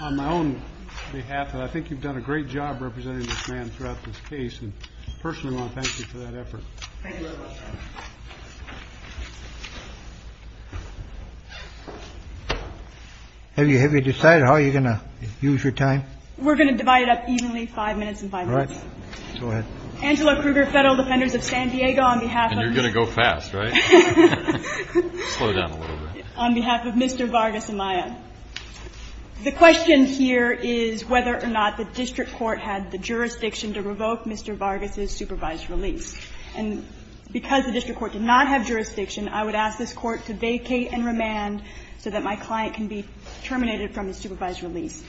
On my own behalf, I think you've done a great job representing this man throughout this case, and personally I want to thank you for that effort. Have you decided how you're going to use your time? We're going to divide it up evenly, five minutes and five minutes. Angela Kruger, Federal Defenders of San Diego, on behalf of... And you're going to go fast, right? Slow down a little bit. On behalf of Mr. Vargas-Maya, the question here is whether or not the district court had the jurisdiction to revoke Mr. Vargas' supervised release. And because the district court did not have jurisdiction, I would ask this court to vacate and remand so that my client can be terminated from his supervised release.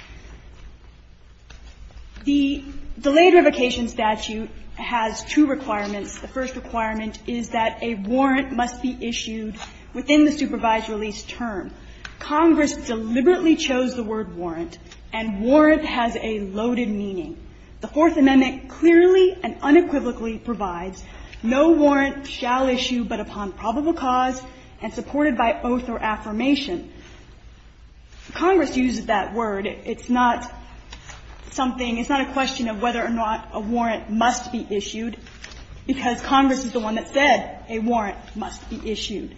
The delayed revocation statute has two requirements. The first requirement is that a warrant must be issued within the supervised release term. Congress deliberately chose the word warrant, and warrant has a loaded meaning. The Fourth Amendment clearly and unequivocally provides no warrant shall issue but upon probable cause and supported by oath or affirmation. Congress uses that word. It's not something, it's not a question of whether or not a warrant must be issued, because Congress is the one that said a warrant must be issued.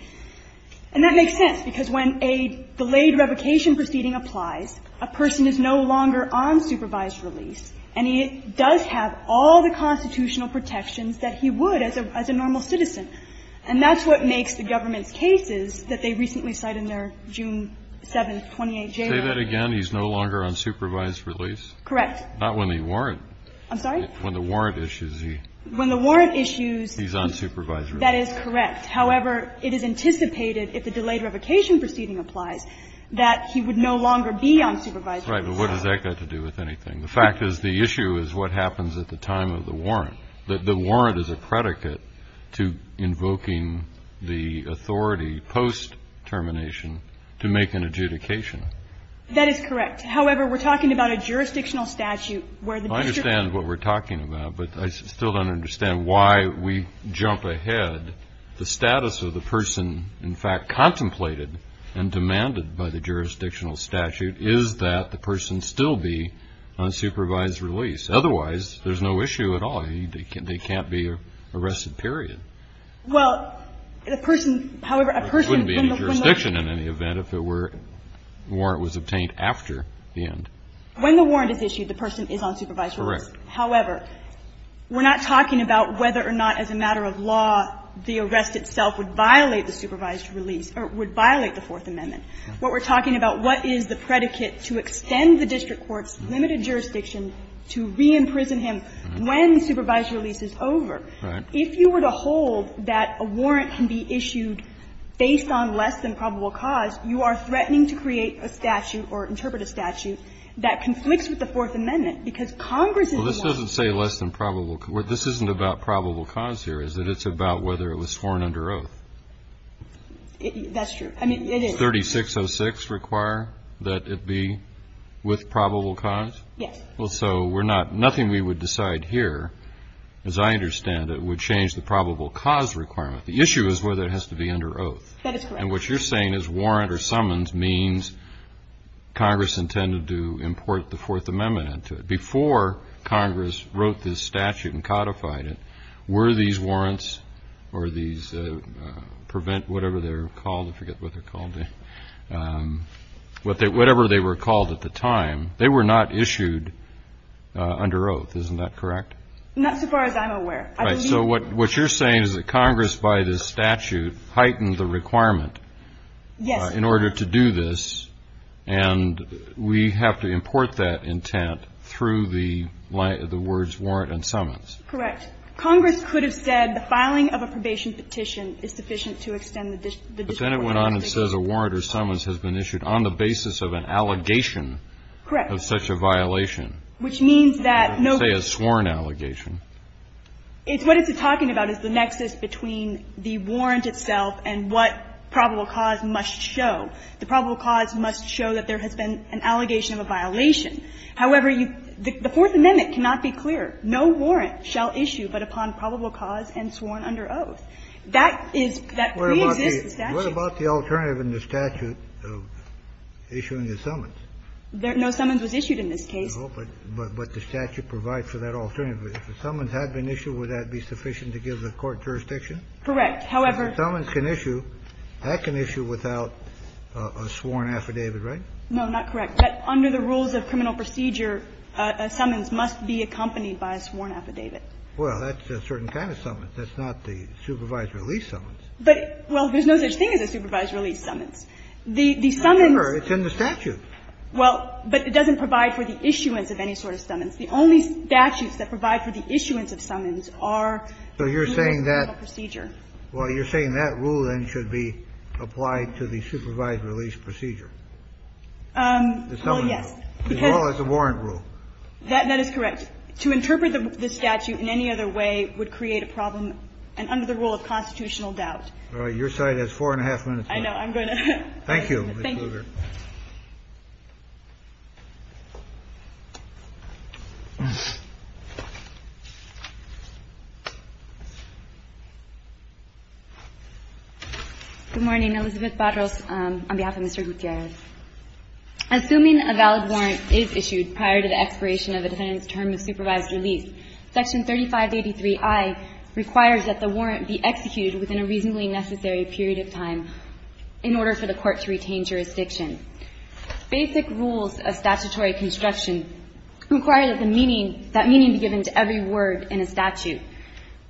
And that makes sense, because when a delayed revocation proceeding applies, a person is no longer on supervised release, and he does have all the constitutional protections that he would as a normal citizen. And that's what makes the government's cases that they recently cited in their June 7th, 28th jail. Kennedy, did you say that again? He's no longer on supervised release? Correct. Not when the warrant. I'm sorry? When the warrant issues, he's on supervised release. That is correct. However, it is anticipated if the delayed revocation proceeding applies that he would no longer be on supervised release. Right. But what does that got to do with anything? The fact is the issue is what happens at the time of the warrant, that the warrant is a predicate to invoking the authority post-termination to make an adjudication. That is correct. However, we're talking about a jurisdictional statute where the district. I understand what we're talking about, but I still don't understand why we jump ahead. The status of the person, in fact, contemplated and demanded by the jurisdictional statute is that the person still be on supervised release. Otherwise, there's no issue at all. They can't be arrested, period. Well, the person, however, a person. There wouldn't be any jurisdiction in any event if the warrant was obtained after the end. When the warrant is issued, the person is on supervised release. Correct. However, we're not talking about whether or not as a matter of law the arrest itself would violate the supervised release or would violate the Fourth Amendment. What we're talking about, what is the predicate to extend the district court's limited jurisdiction to re-imprison him when supervised release is over? Right. If you were to hold that a warrant can be issued based on less than probable cause, you are threatening to create a statute or interpret a statute that conflicts with the Fourth Amendment, because Congress is not. Well, this doesn't say less than probable. What this isn't about probable cause here is that it's about whether it was sworn under oath. That's true. I mean, it is. Does 3606 require that it be with probable cause? Yes. Well, so we're not, nothing we would decide here, as I understand it, would change the probable cause requirement. The issue is whether it has to be under oath. That is correct. And what you're saying is warrant or summons means Congress intended to import the Fourth Amendment into it. Before Congress wrote this statute and codified it, were these warrants or these prevent, whatever they're called, I forget what they're called. Whatever they were called at the time, they were not issued under oath. Isn't that correct? Not so far as I'm aware. Right. So what you're saying is that Congress, by this statute, heightened the requirement in order to do this. And we have to import that intent through the words warrant and summons. Correct. Congress could have said the filing of a probation petition is sufficient to extend the discord. But then it went on and says a warrant or summons has been issued on the basis of an allegation of such a violation. Correct. Which means that no ---- Say a sworn allegation. It's what it's talking about is the nexus between the warrant itself and what probable cause must show. The probable cause must show that there has been an allegation of a violation. However, you, the Fourth Amendment cannot be clear. No warrant shall issue but upon probable cause and sworn under oath. That is, that preexists the statute. What about the alternative in the statute of issuing a summons? No summons was issued in this case. But the statute provides for that alternative. If a summons had been issued, would that be sufficient to give the court jurisdiction? Correct. However ---- Summons can issue. That can issue without a sworn affidavit, right? No, not correct. Under the rules of criminal procedure, a summons must be accompanied by a sworn affidavit. Well, that's a certain kind of summons. That's not the supervised release summons. But, well, there's no such thing as a supervised release summons. The summons ---- Remember, it's in the statute. Well, but it doesn't provide for the issuance of any sort of summons. The only statutes that provide for the issuance of summons are ---- So you're saying that -------- criminal procedure. Well, you're saying that rule, then, should be applied to the supervised release procedure? The summons rule. Well, yes, because ---- As well as the warrant rule. That is correct. To interpret the statute in any other way would create a problem and under the rule of constitutional doubt. All right. Your side has four and a half minutes left. I know. I'm going to ---- Thank you, Ms. Kruger. Thank you. Good morning. Elizabeth Barros on behalf of Mr. Gutierrez. Assuming a valid warrant is issued prior to the expiration of a defendant's term of supervised release, Section 3583i requires that the warrant be expired and executed within a reasonably necessary period of time in order for the court to retain jurisdiction. Basic rules of statutory construction require that the meaning be given to every word in a statute.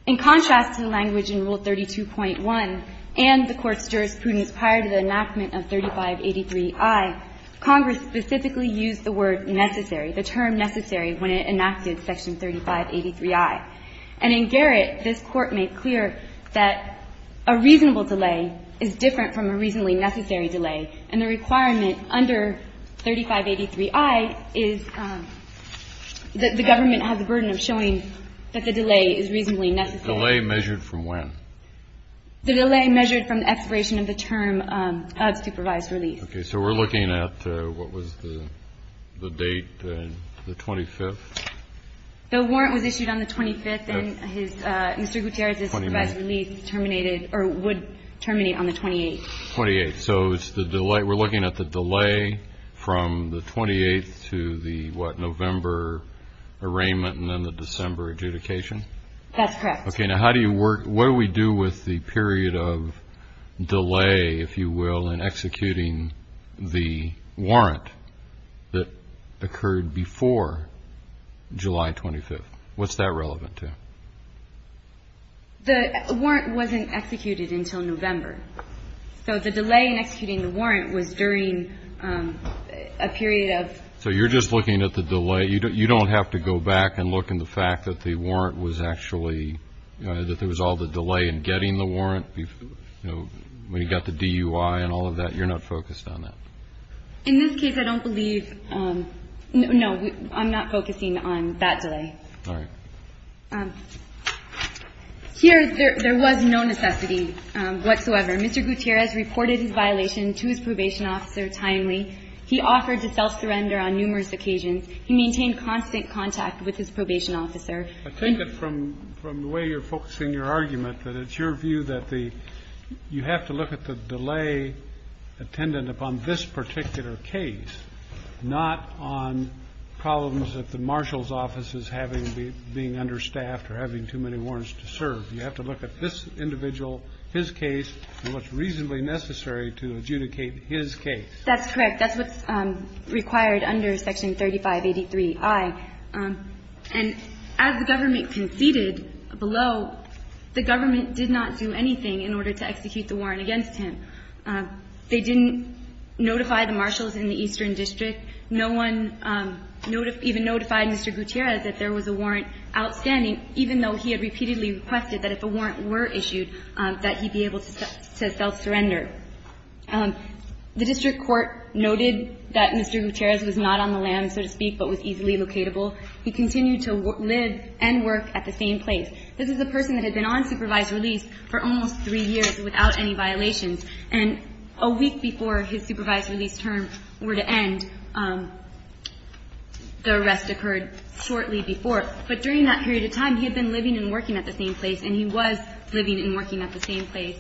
In contrast to the language in Rule 32.1 and the Court's jurisprudence prior to the enactment of 3583i, Congress specifically used the word necessary, the term necessary, when it enacted Section 3583i. And in Garrett, this Court made clear that a reasonable delay is different from a reasonably necessary delay. And the requirement under 3583i is that the government has the burden of showing that the delay is reasonably necessary. The delay measured from when? The delay measured from the expiration of the term of supervised release. Okay. So we're looking at what was the date, the 25th? The warrant was issued on the 25th and Mr. Gutierrez's supervised release terminated or would terminate on the 28th. 28th. So it's the delay. We're looking at the delay from the 28th to the, what, November arraignment and then the December adjudication? That's correct. Okay. Now, how do you work, what do we do with the period of delay, if you will, in July 25th? What's that relevant to? The warrant wasn't executed until November. So the delay in executing the warrant was during a period of? So you're just looking at the delay. You don't have to go back and look in the fact that the warrant was actually, that there was all the delay in getting the warrant, you know, when you got the DUI and all of that. You're not focused on that. In this case, I don't believe, no, I'm not focusing on that delay. All right. Here, there was no necessity whatsoever. Mr. Gutierrez reported his violation to his probation officer timely. He offered to self-surrender on numerous occasions. He maintained constant contact with his probation officer. I take it from the way you're focusing your argument that it's your view that the, that you have to look at the delay attendant upon this particular case, not on problems that the marshal's office is having, being understaffed or having too many warrants to serve. You have to look at this individual, his case, and what's reasonably necessary to adjudicate his case. That's correct. That's what's required under Section 3583i. And as the government conceded below, the government did not do anything in order to execute the warrant against him. They didn't notify the marshals in the Eastern District. No one even notified Mr. Gutierrez that there was a warrant outstanding, even though he had repeatedly requested that if a warrant were issued, that he be able to self-surrender. The district court noted that Mr. Gutierrez was not on the land, so to speak, but was easily locatable. He continued to live and work at the same place. This is a person that had been on supervised release for almost three years without any violations. And a week before his supervised release term were to end, the arrest occurred shortly before. But during that period of time, he had been living and working at the same place, and he was living and working at the same place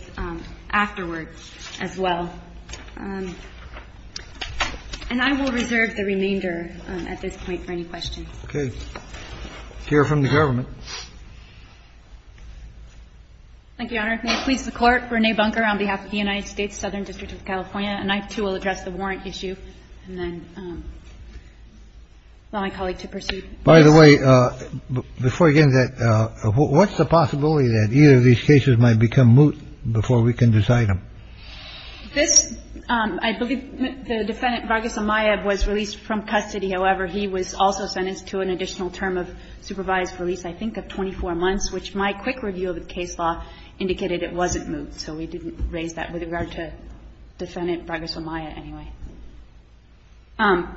afterwards as well. And I will reserve the remainder at this point for any questions. Okay. Hear from the government. Thank you, Your Honor. May it please the Court. Renee Bunker on behalf of the United States Southern District of California. And I, too, will address the warrant issue and then allow my colleague to pursue. By the way, before I get into that, what's the possibility that either of these cases might become moot before we can decide them? This, I believe the defendant, Vargas Amaya, was released from custody. However, he was also sentenced to an additional term of supervised release, I think, of 24 months, which my quick review of the case law indicated it wasn't moot. So we didn't raise that with regard to defendant Vargas Amaya anyway.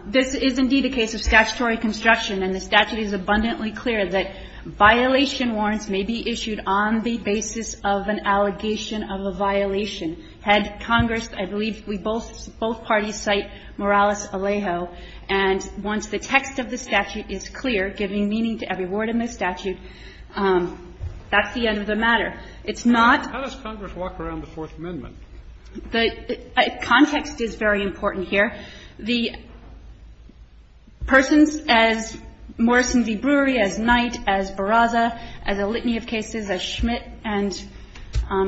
This is indeed a case of statutory construction, and the statute is abundantly clear that violation warrants may be issued on the basis of an allegation of a violation. Had Congress, I believe we both – both parties cite Morales-Alejo. And once the text of the statute is clear, giving meaning to every word in the statute, that's the end of the matter. It's not – How does Congress walk around the Fourth Amendment? The context is very important here. The persons as Morrison v. Brewery, as Knight, as Barraza, as a litany of cases, as Schmidt and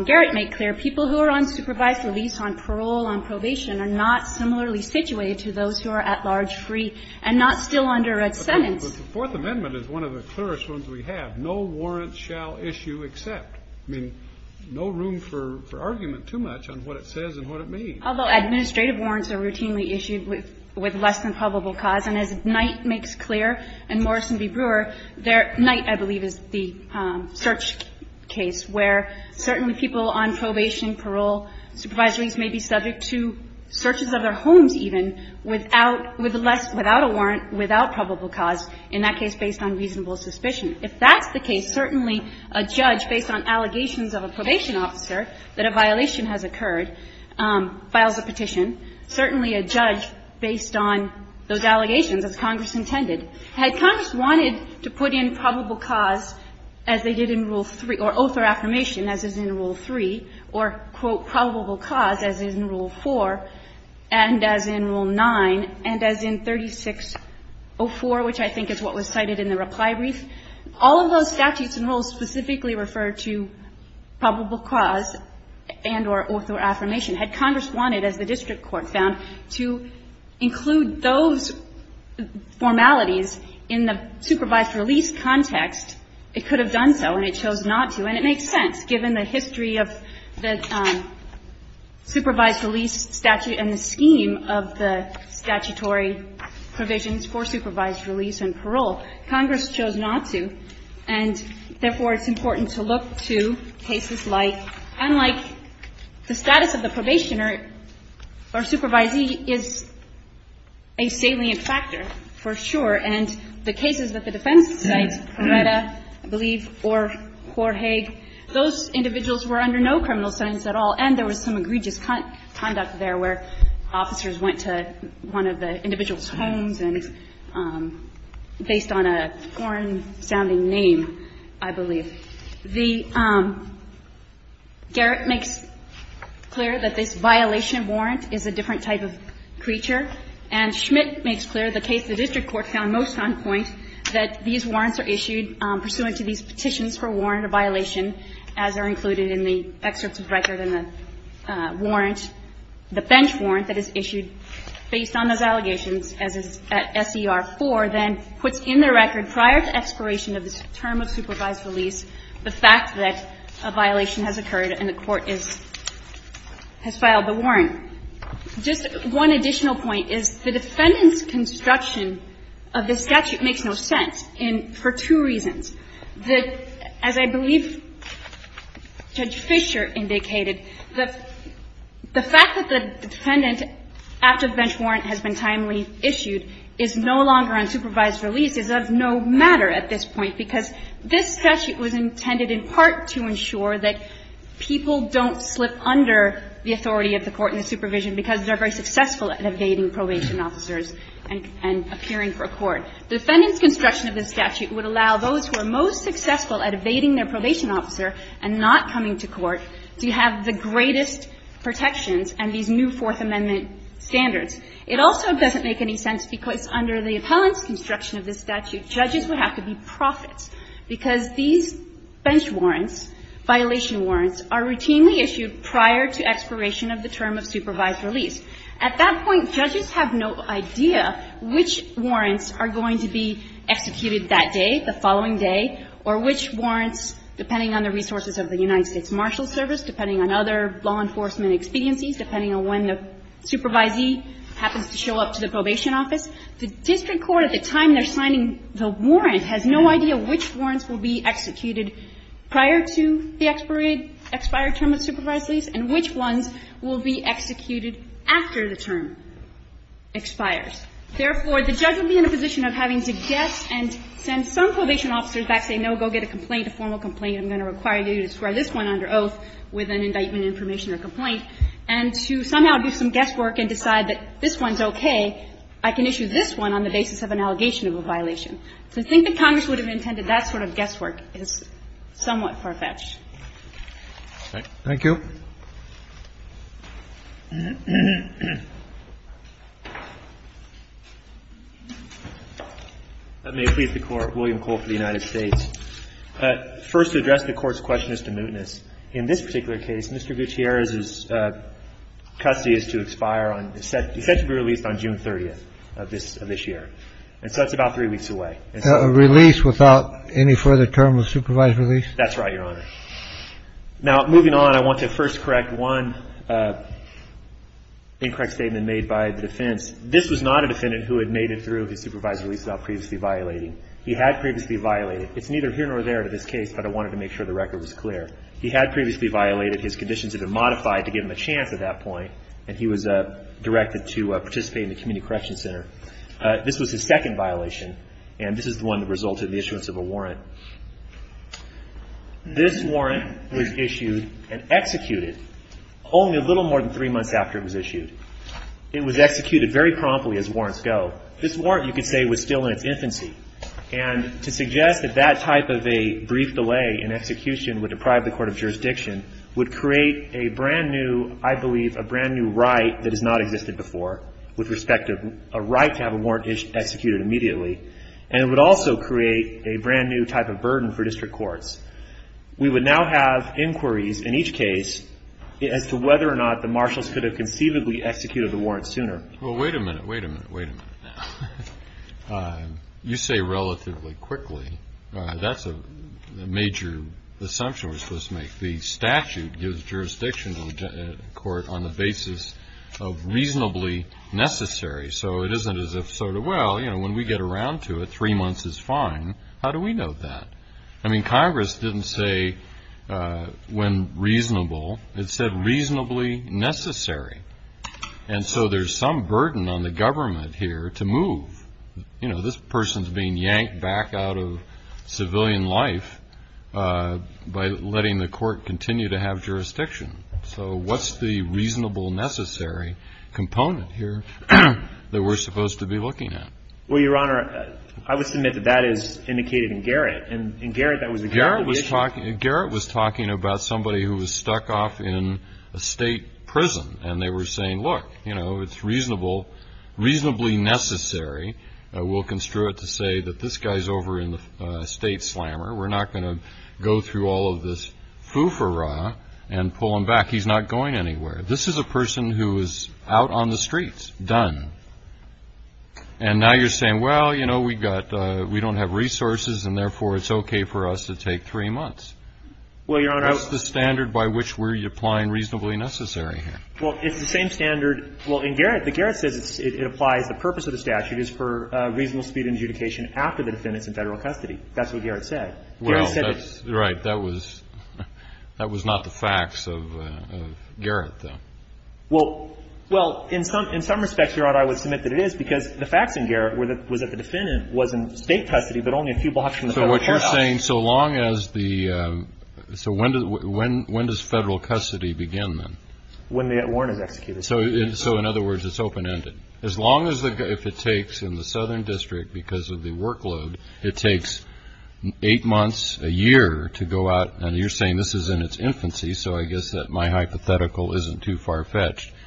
Garrett make clear, people who are on supervised release, on parole, on probation, are not similarly situated to those who are at large free and not still under a sentence. But the Fourth Amendment is one of the clearest ones we have. No warrant shall issue except. I mean, no room for argument too much on what it says and what it means. Although administrative warrants are routinely issued with less than probable cause. And as Knight makes clear and Morrison v. Brewer, Knight, I believe, is the search case, where certainly people on probation, parole, supervised release may be subject to searches of their homes even without – without a warrant, without probable cause, in that case based on reasonable suspicion. If that's the case, certainly a judge, based on allegations of a probation officer that a violation has occurred, files a petition. Certainly a judge, based on those allegations, as Congress intended. Had Congress wanted to put in probable cause, as they did in Rule 3, or oath or affirmation, as is in Rule 3, or, quote, probable cause, as is in Rule 4, and as in Rule 9, and as in 3604, which I think is what was cited in the reply brief, all of those statutes and rules specifically refer to probable cause and or oath or affirmation. Had Congress wanted, as the district court found, to include those formalities in the supervised release context, it could have done so, and it chose not to. And it makes sense, given the history of the supervised release statute and the scheme of the statutory provisions for supervised release and parole. Congress chose not to, and therefore, it's important to look to cases like – unlike the status of the probationer or supervisee is a salient factor, for sure, and it's important to look to cases like that. And the cases that the defense cite, Coretta, I believe, or Korhage, those individuals were under no criminal sentence at all, and there was some egregious conduct there where officers went to one of the individual's homes and – based on a foreign-sounding name, I believe. The – Garrett makes clear that this violation warrant is a different type of creature, and Schmidt makes clear, the case the district court found most on point, that these warrants are issued pursuant to these petitions for warrant of violation, as are included in the excerpts of record in the warrant. The bench warrant that is issued based on those allegations, as is at SER 4, then puts in the record prior to expiration of the term of supervised release the fact that a violation has occurred and the court is – has filed the warrant. Just one additional point is, the defendant's construction of this statute makes no sense in – for two reasons. The – as I believe Judge Fischer indicated, the fact that the defendant, after the bench warrant has been timely issued, is no longer on supervised release is of no matter at this point, because this statute was intended in part to ensure that people don't slip under the authority of the court and the supervision because they're very successful at evading probation officers and appearing for a court. The defendant's construction of this statute would allow those who are most successful at evading their probation officer and not coming to court to have the greatest protections and these new Fourth Amendment standards. It also doesn't make any sense because under the appellant's construction of this statute, judges would have to be profits because these bench warrants, violation warrants, are routinely issued prior to expiration of the term of supervised release. At that point, judges have no idea which warrants are going to be executed that day, the following day, or which warrants, depending on the resources of the United States law enforcement expediencies, depending on when the supervisee happens to show up to the probation office. The district court, at the time they're signing the warrant, has no idea which warrants will be executed prior to the expired term of supervised release and which ones will be executed after the term expires. Therefore, the judge would be in a position of having to guess and send some probation officers back saying, no, go get a complaint, a formal complaint, I'm going to require you to square this one under oath with an indictment information or complaint, and to somehow do some guesswork and decide that this one's okay, I can issue this one on the basis of an allegation of a violation. To think that Congress would have intended that sort of guesswork is somewhat far-fetched. Roberts. Thank you. May it please the Court. William Cole for the United States. First, to address the Court's question as to mootness, in this particular case, Mr. Gutierrez's custody is to expire on, is set to be released on June 30th of this year. And so that's about three weeks away. A release without any further term of supervised release? That's right, Your Honor. Now, moving on, I want to first correct one incorrect statement made by the defense. This was not a defendant who had made it through his supervised release without previously violating. He had previously violated. It's neither here nor there in this case, but I wanted to make sure the record was clear. He had previously violated. His conditions had been modified to give him a chance at that point, and he was directed to participate in the Community Correction Center. This was his second violation, and this is the one that resulted in the issuance of a warrant. This warrant was issued and executed only a little more than three months after it was issued. It was executed very promptly as warrants go. This warrant, you could say, was still in its infancy. And to suggest that that type of a brief delay in execution would deprive the Court of Jurisdiction would create a brand new, I believe, a brand new right that has not existed before with respect to a right to have a warrant executed immediately, and it would also create a brand new type of burden for district courts. We would now have inquiries in each case as to whether or not the marshals could have conceivably executed the warrant sooner. Well, wait a minute. Wait a minute. Wait a minute. You say relatively quickly. That's a major assumption we're supposed to make. The statute gives jurisdiction to the court on the basis of reasonably necessary, so it isn't as if sort of, well, you know, when we get around to it, three months is fine. How do we know that? I mean, Congress didn't say when reasonable. It said reasonably necessary. And so there's some burden on the government here to move. You know, this person's being yanked back out of civilian life by letting the court continue to have jurisdiction. So what's the reasonable necessary component here that we're supposed to be looking at? Well, Your Honor, I would submit that that is indicated in Garrett. And Garrett, that was a part of the issue. Garrett was talking about somebody who was stuck off in a state prison, and they were saying, look, you know, it's reasonable, reasonably necessary. We'll construe it to say that this guy's over in the state slammer. We're not going to go through all of this foo-for-rah and pull him back. He's not going anywhere. This is a person who is out on the streets, done. And now you're saying, well, you know, we've got – we don't have resources, and therefore, it's okay for us to take three months. Well, Your Honor, I was – That's the standard by which we're applying reasonably necessary here. Well, it's the same standard – well, in Garrett, Garrett says it applies – the purpose of the statute is for reasonable speed of adjudication after the defendant's in Federal custody. That's what Garrett said. Well, that's – right. That was – that was not the facts of Garrett, though. Well – well, in some – in some respects, Your Honor, I would submit that it is, because the facts in Garrett were that – was that the defendant was in State custody, but only a few blocks from the Federal courthouse. So what you're saying, so long as the – so when does Federal custody begin, then? When the warrant is executed. So in other words, it's open-ended. As long as the – if it takes in the Southern District, because of the workload, it takes eight months, a year, to go out – and you're saying this is in its infancy, so I guess that my hypothetical isn't too far-fetched –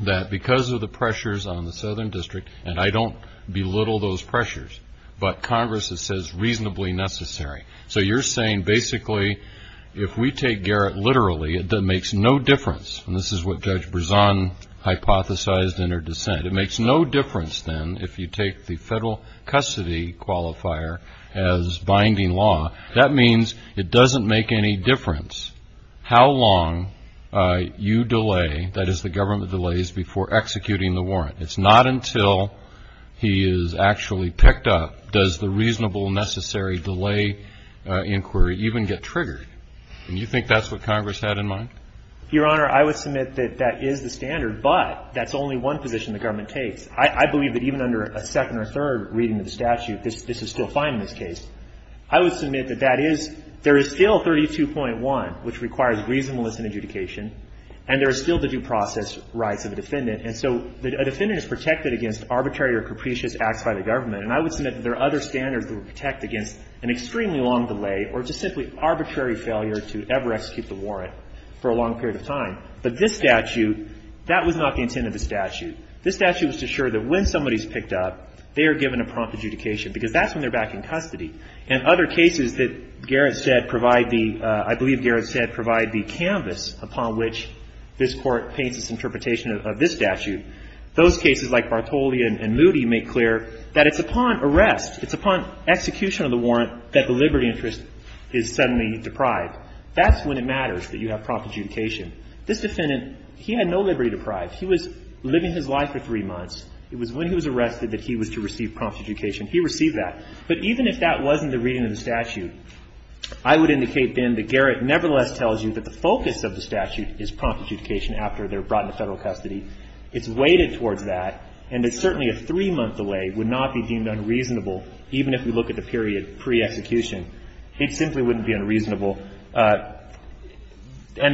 that because of the pressures on the Southern District, and I don't belittle those pressures, but Congress, it says reasonably necessary. So you're saying, basically, if we take Garrett literally, it makes no difference – and this is what Judge Brezan hypothesized in her dissent – it makes no difference, then, if you take the Federal custody qualifier as binding law. That means it doesn't make any difference how long you delay – that is, the government delays before executing the warrant. It's not until he is actually picked up does the reasonable, necessary delay inquiry even get triggered. And you think that's what Congress had in mind? Your Honor, I would submit that that is the standard, but that's only one position the government takes. I believe that even under a second or third reading of the statute, this is still fine in this case. I would submit that that is – there is still 32.1, which requires reasonableness in adjudication, and there is still the due process rights of a defendant. And so a defendant is protected against arbitrary or capricious acts by the government, and I would submit that there are other standards that would protect against an extremely long delay or just simply arbitrary failure to ever execute the warrant for a long period of time. But this statute, that was not the intent of the statute. This statute was to assure that when somebody is picked up, they are given a prompt adjudication, because that's when they're back in custody. And other cases that Garrett said provide the – I believe Garrett said provide the canvas upon which this Court paints its interpretation of this statute. Those cases like Bartoli and Moody make clear that it's upon arrest, it's upon execution of the warrant, that the liberty interest is suddenly deprived. That's when it matters that you have prompt adjudication. This defendant, he had no liberty deprived. He was living his life for three months. It was when he was arrested that he was to receive prompt adjudication. He received that. But even if that wasn't the reading of the statute, I would indicate then that Garrett nevertheless tells you that the focus of the statute is prompt adjudication after they're brought into Federal custody. It's weighted towards that, and it's certainly a three-month delay would not be deemed unreasonable, even if we look at the period pre-execution. It simply wouldn't be unreasonable. And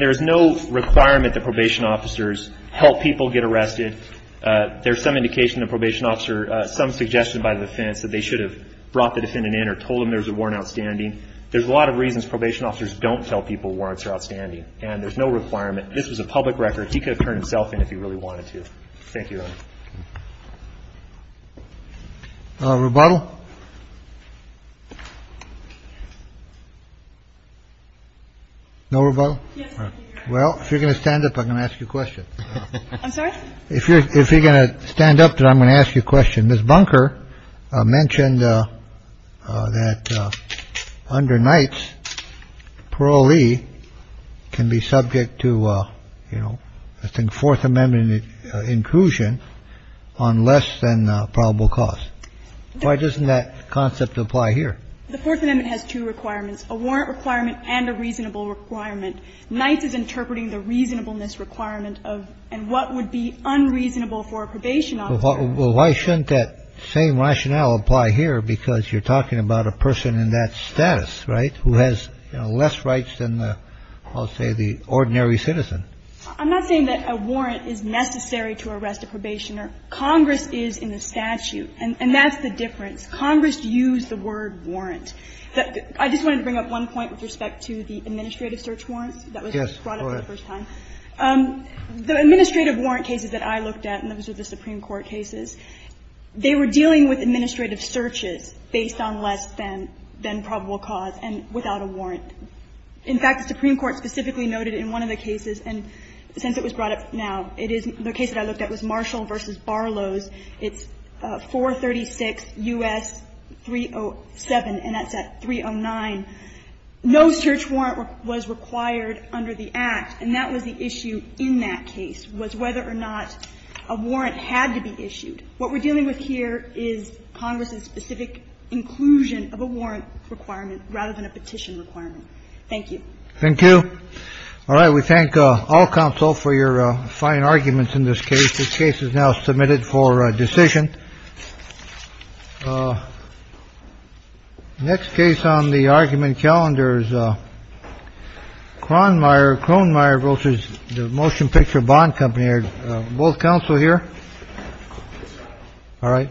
there is no requirement that probation officers help people get arrested. There's some indication the probation officer – some suggestion by the defense that they should have brought the defendant in or told him there was a warrant outstanding. There's a lot of reasons probation officers don't tell people warrants are outstanding, and there's no requirement. This was a public record. He could have turned himself in if he really wanted to. Thank you, Your Honor. Rebuttal? No rebuttal? All right. Well, if you're going to stand up, I'm going to ask you a question. I'm sorry? If you're going to stand up, then I'm going to ask you a question. And Ms. Bunker mentioned that under Knights, parolee can be subject to, you know, I think Fourth Amendment inclusion on less than probable cause. Why doesn't that concept apply here? The Fourth Amendment has two requirements, a warrant requirement and a reasonable requirement. Knights is interpreting the reasonableness requirement of and what would be unreasonable for a probation officer. Well, why shouldn't that same rationale apply here? Because you're talking about a person in that status, right, who has less rights than, I'll say, the ordinary citizen. I'm not saying that a warrant is necessary to arrest a probationer. Congress is in the statute. And that's the difference. Congress used the word warrant. I just wanted to bring up one point with respect to the administrative search warrants that was brought up for the first time. Yes, go ahead. In the warrant cases that I looked at, and those are the Supreme Court cases, they were dealing with administrative searches based on less than probable cause and without a warrant. In fact, the Supreme Court specifically noted in one of the cases, and since it was brought up now, it is the case that I looked at was Marshall v. Barlows. It's 436 U.S. 307, and that's at 309. No search warrant was required under the Act. And that was the issue in that case was whether or not a warrant had to be issued. What we're dealing with here is Congress's specific inclusion of a warrant requirement rather than a petition requirement. Thank you. Thank you. All right. We thank all counsel for your fine arguments in this case. This case is now submitted for decision. Oh. Next case on the argument calendars. Kronmeier Kronmeier versus the motion picture bond company. Both counsel here. All right. Thank you.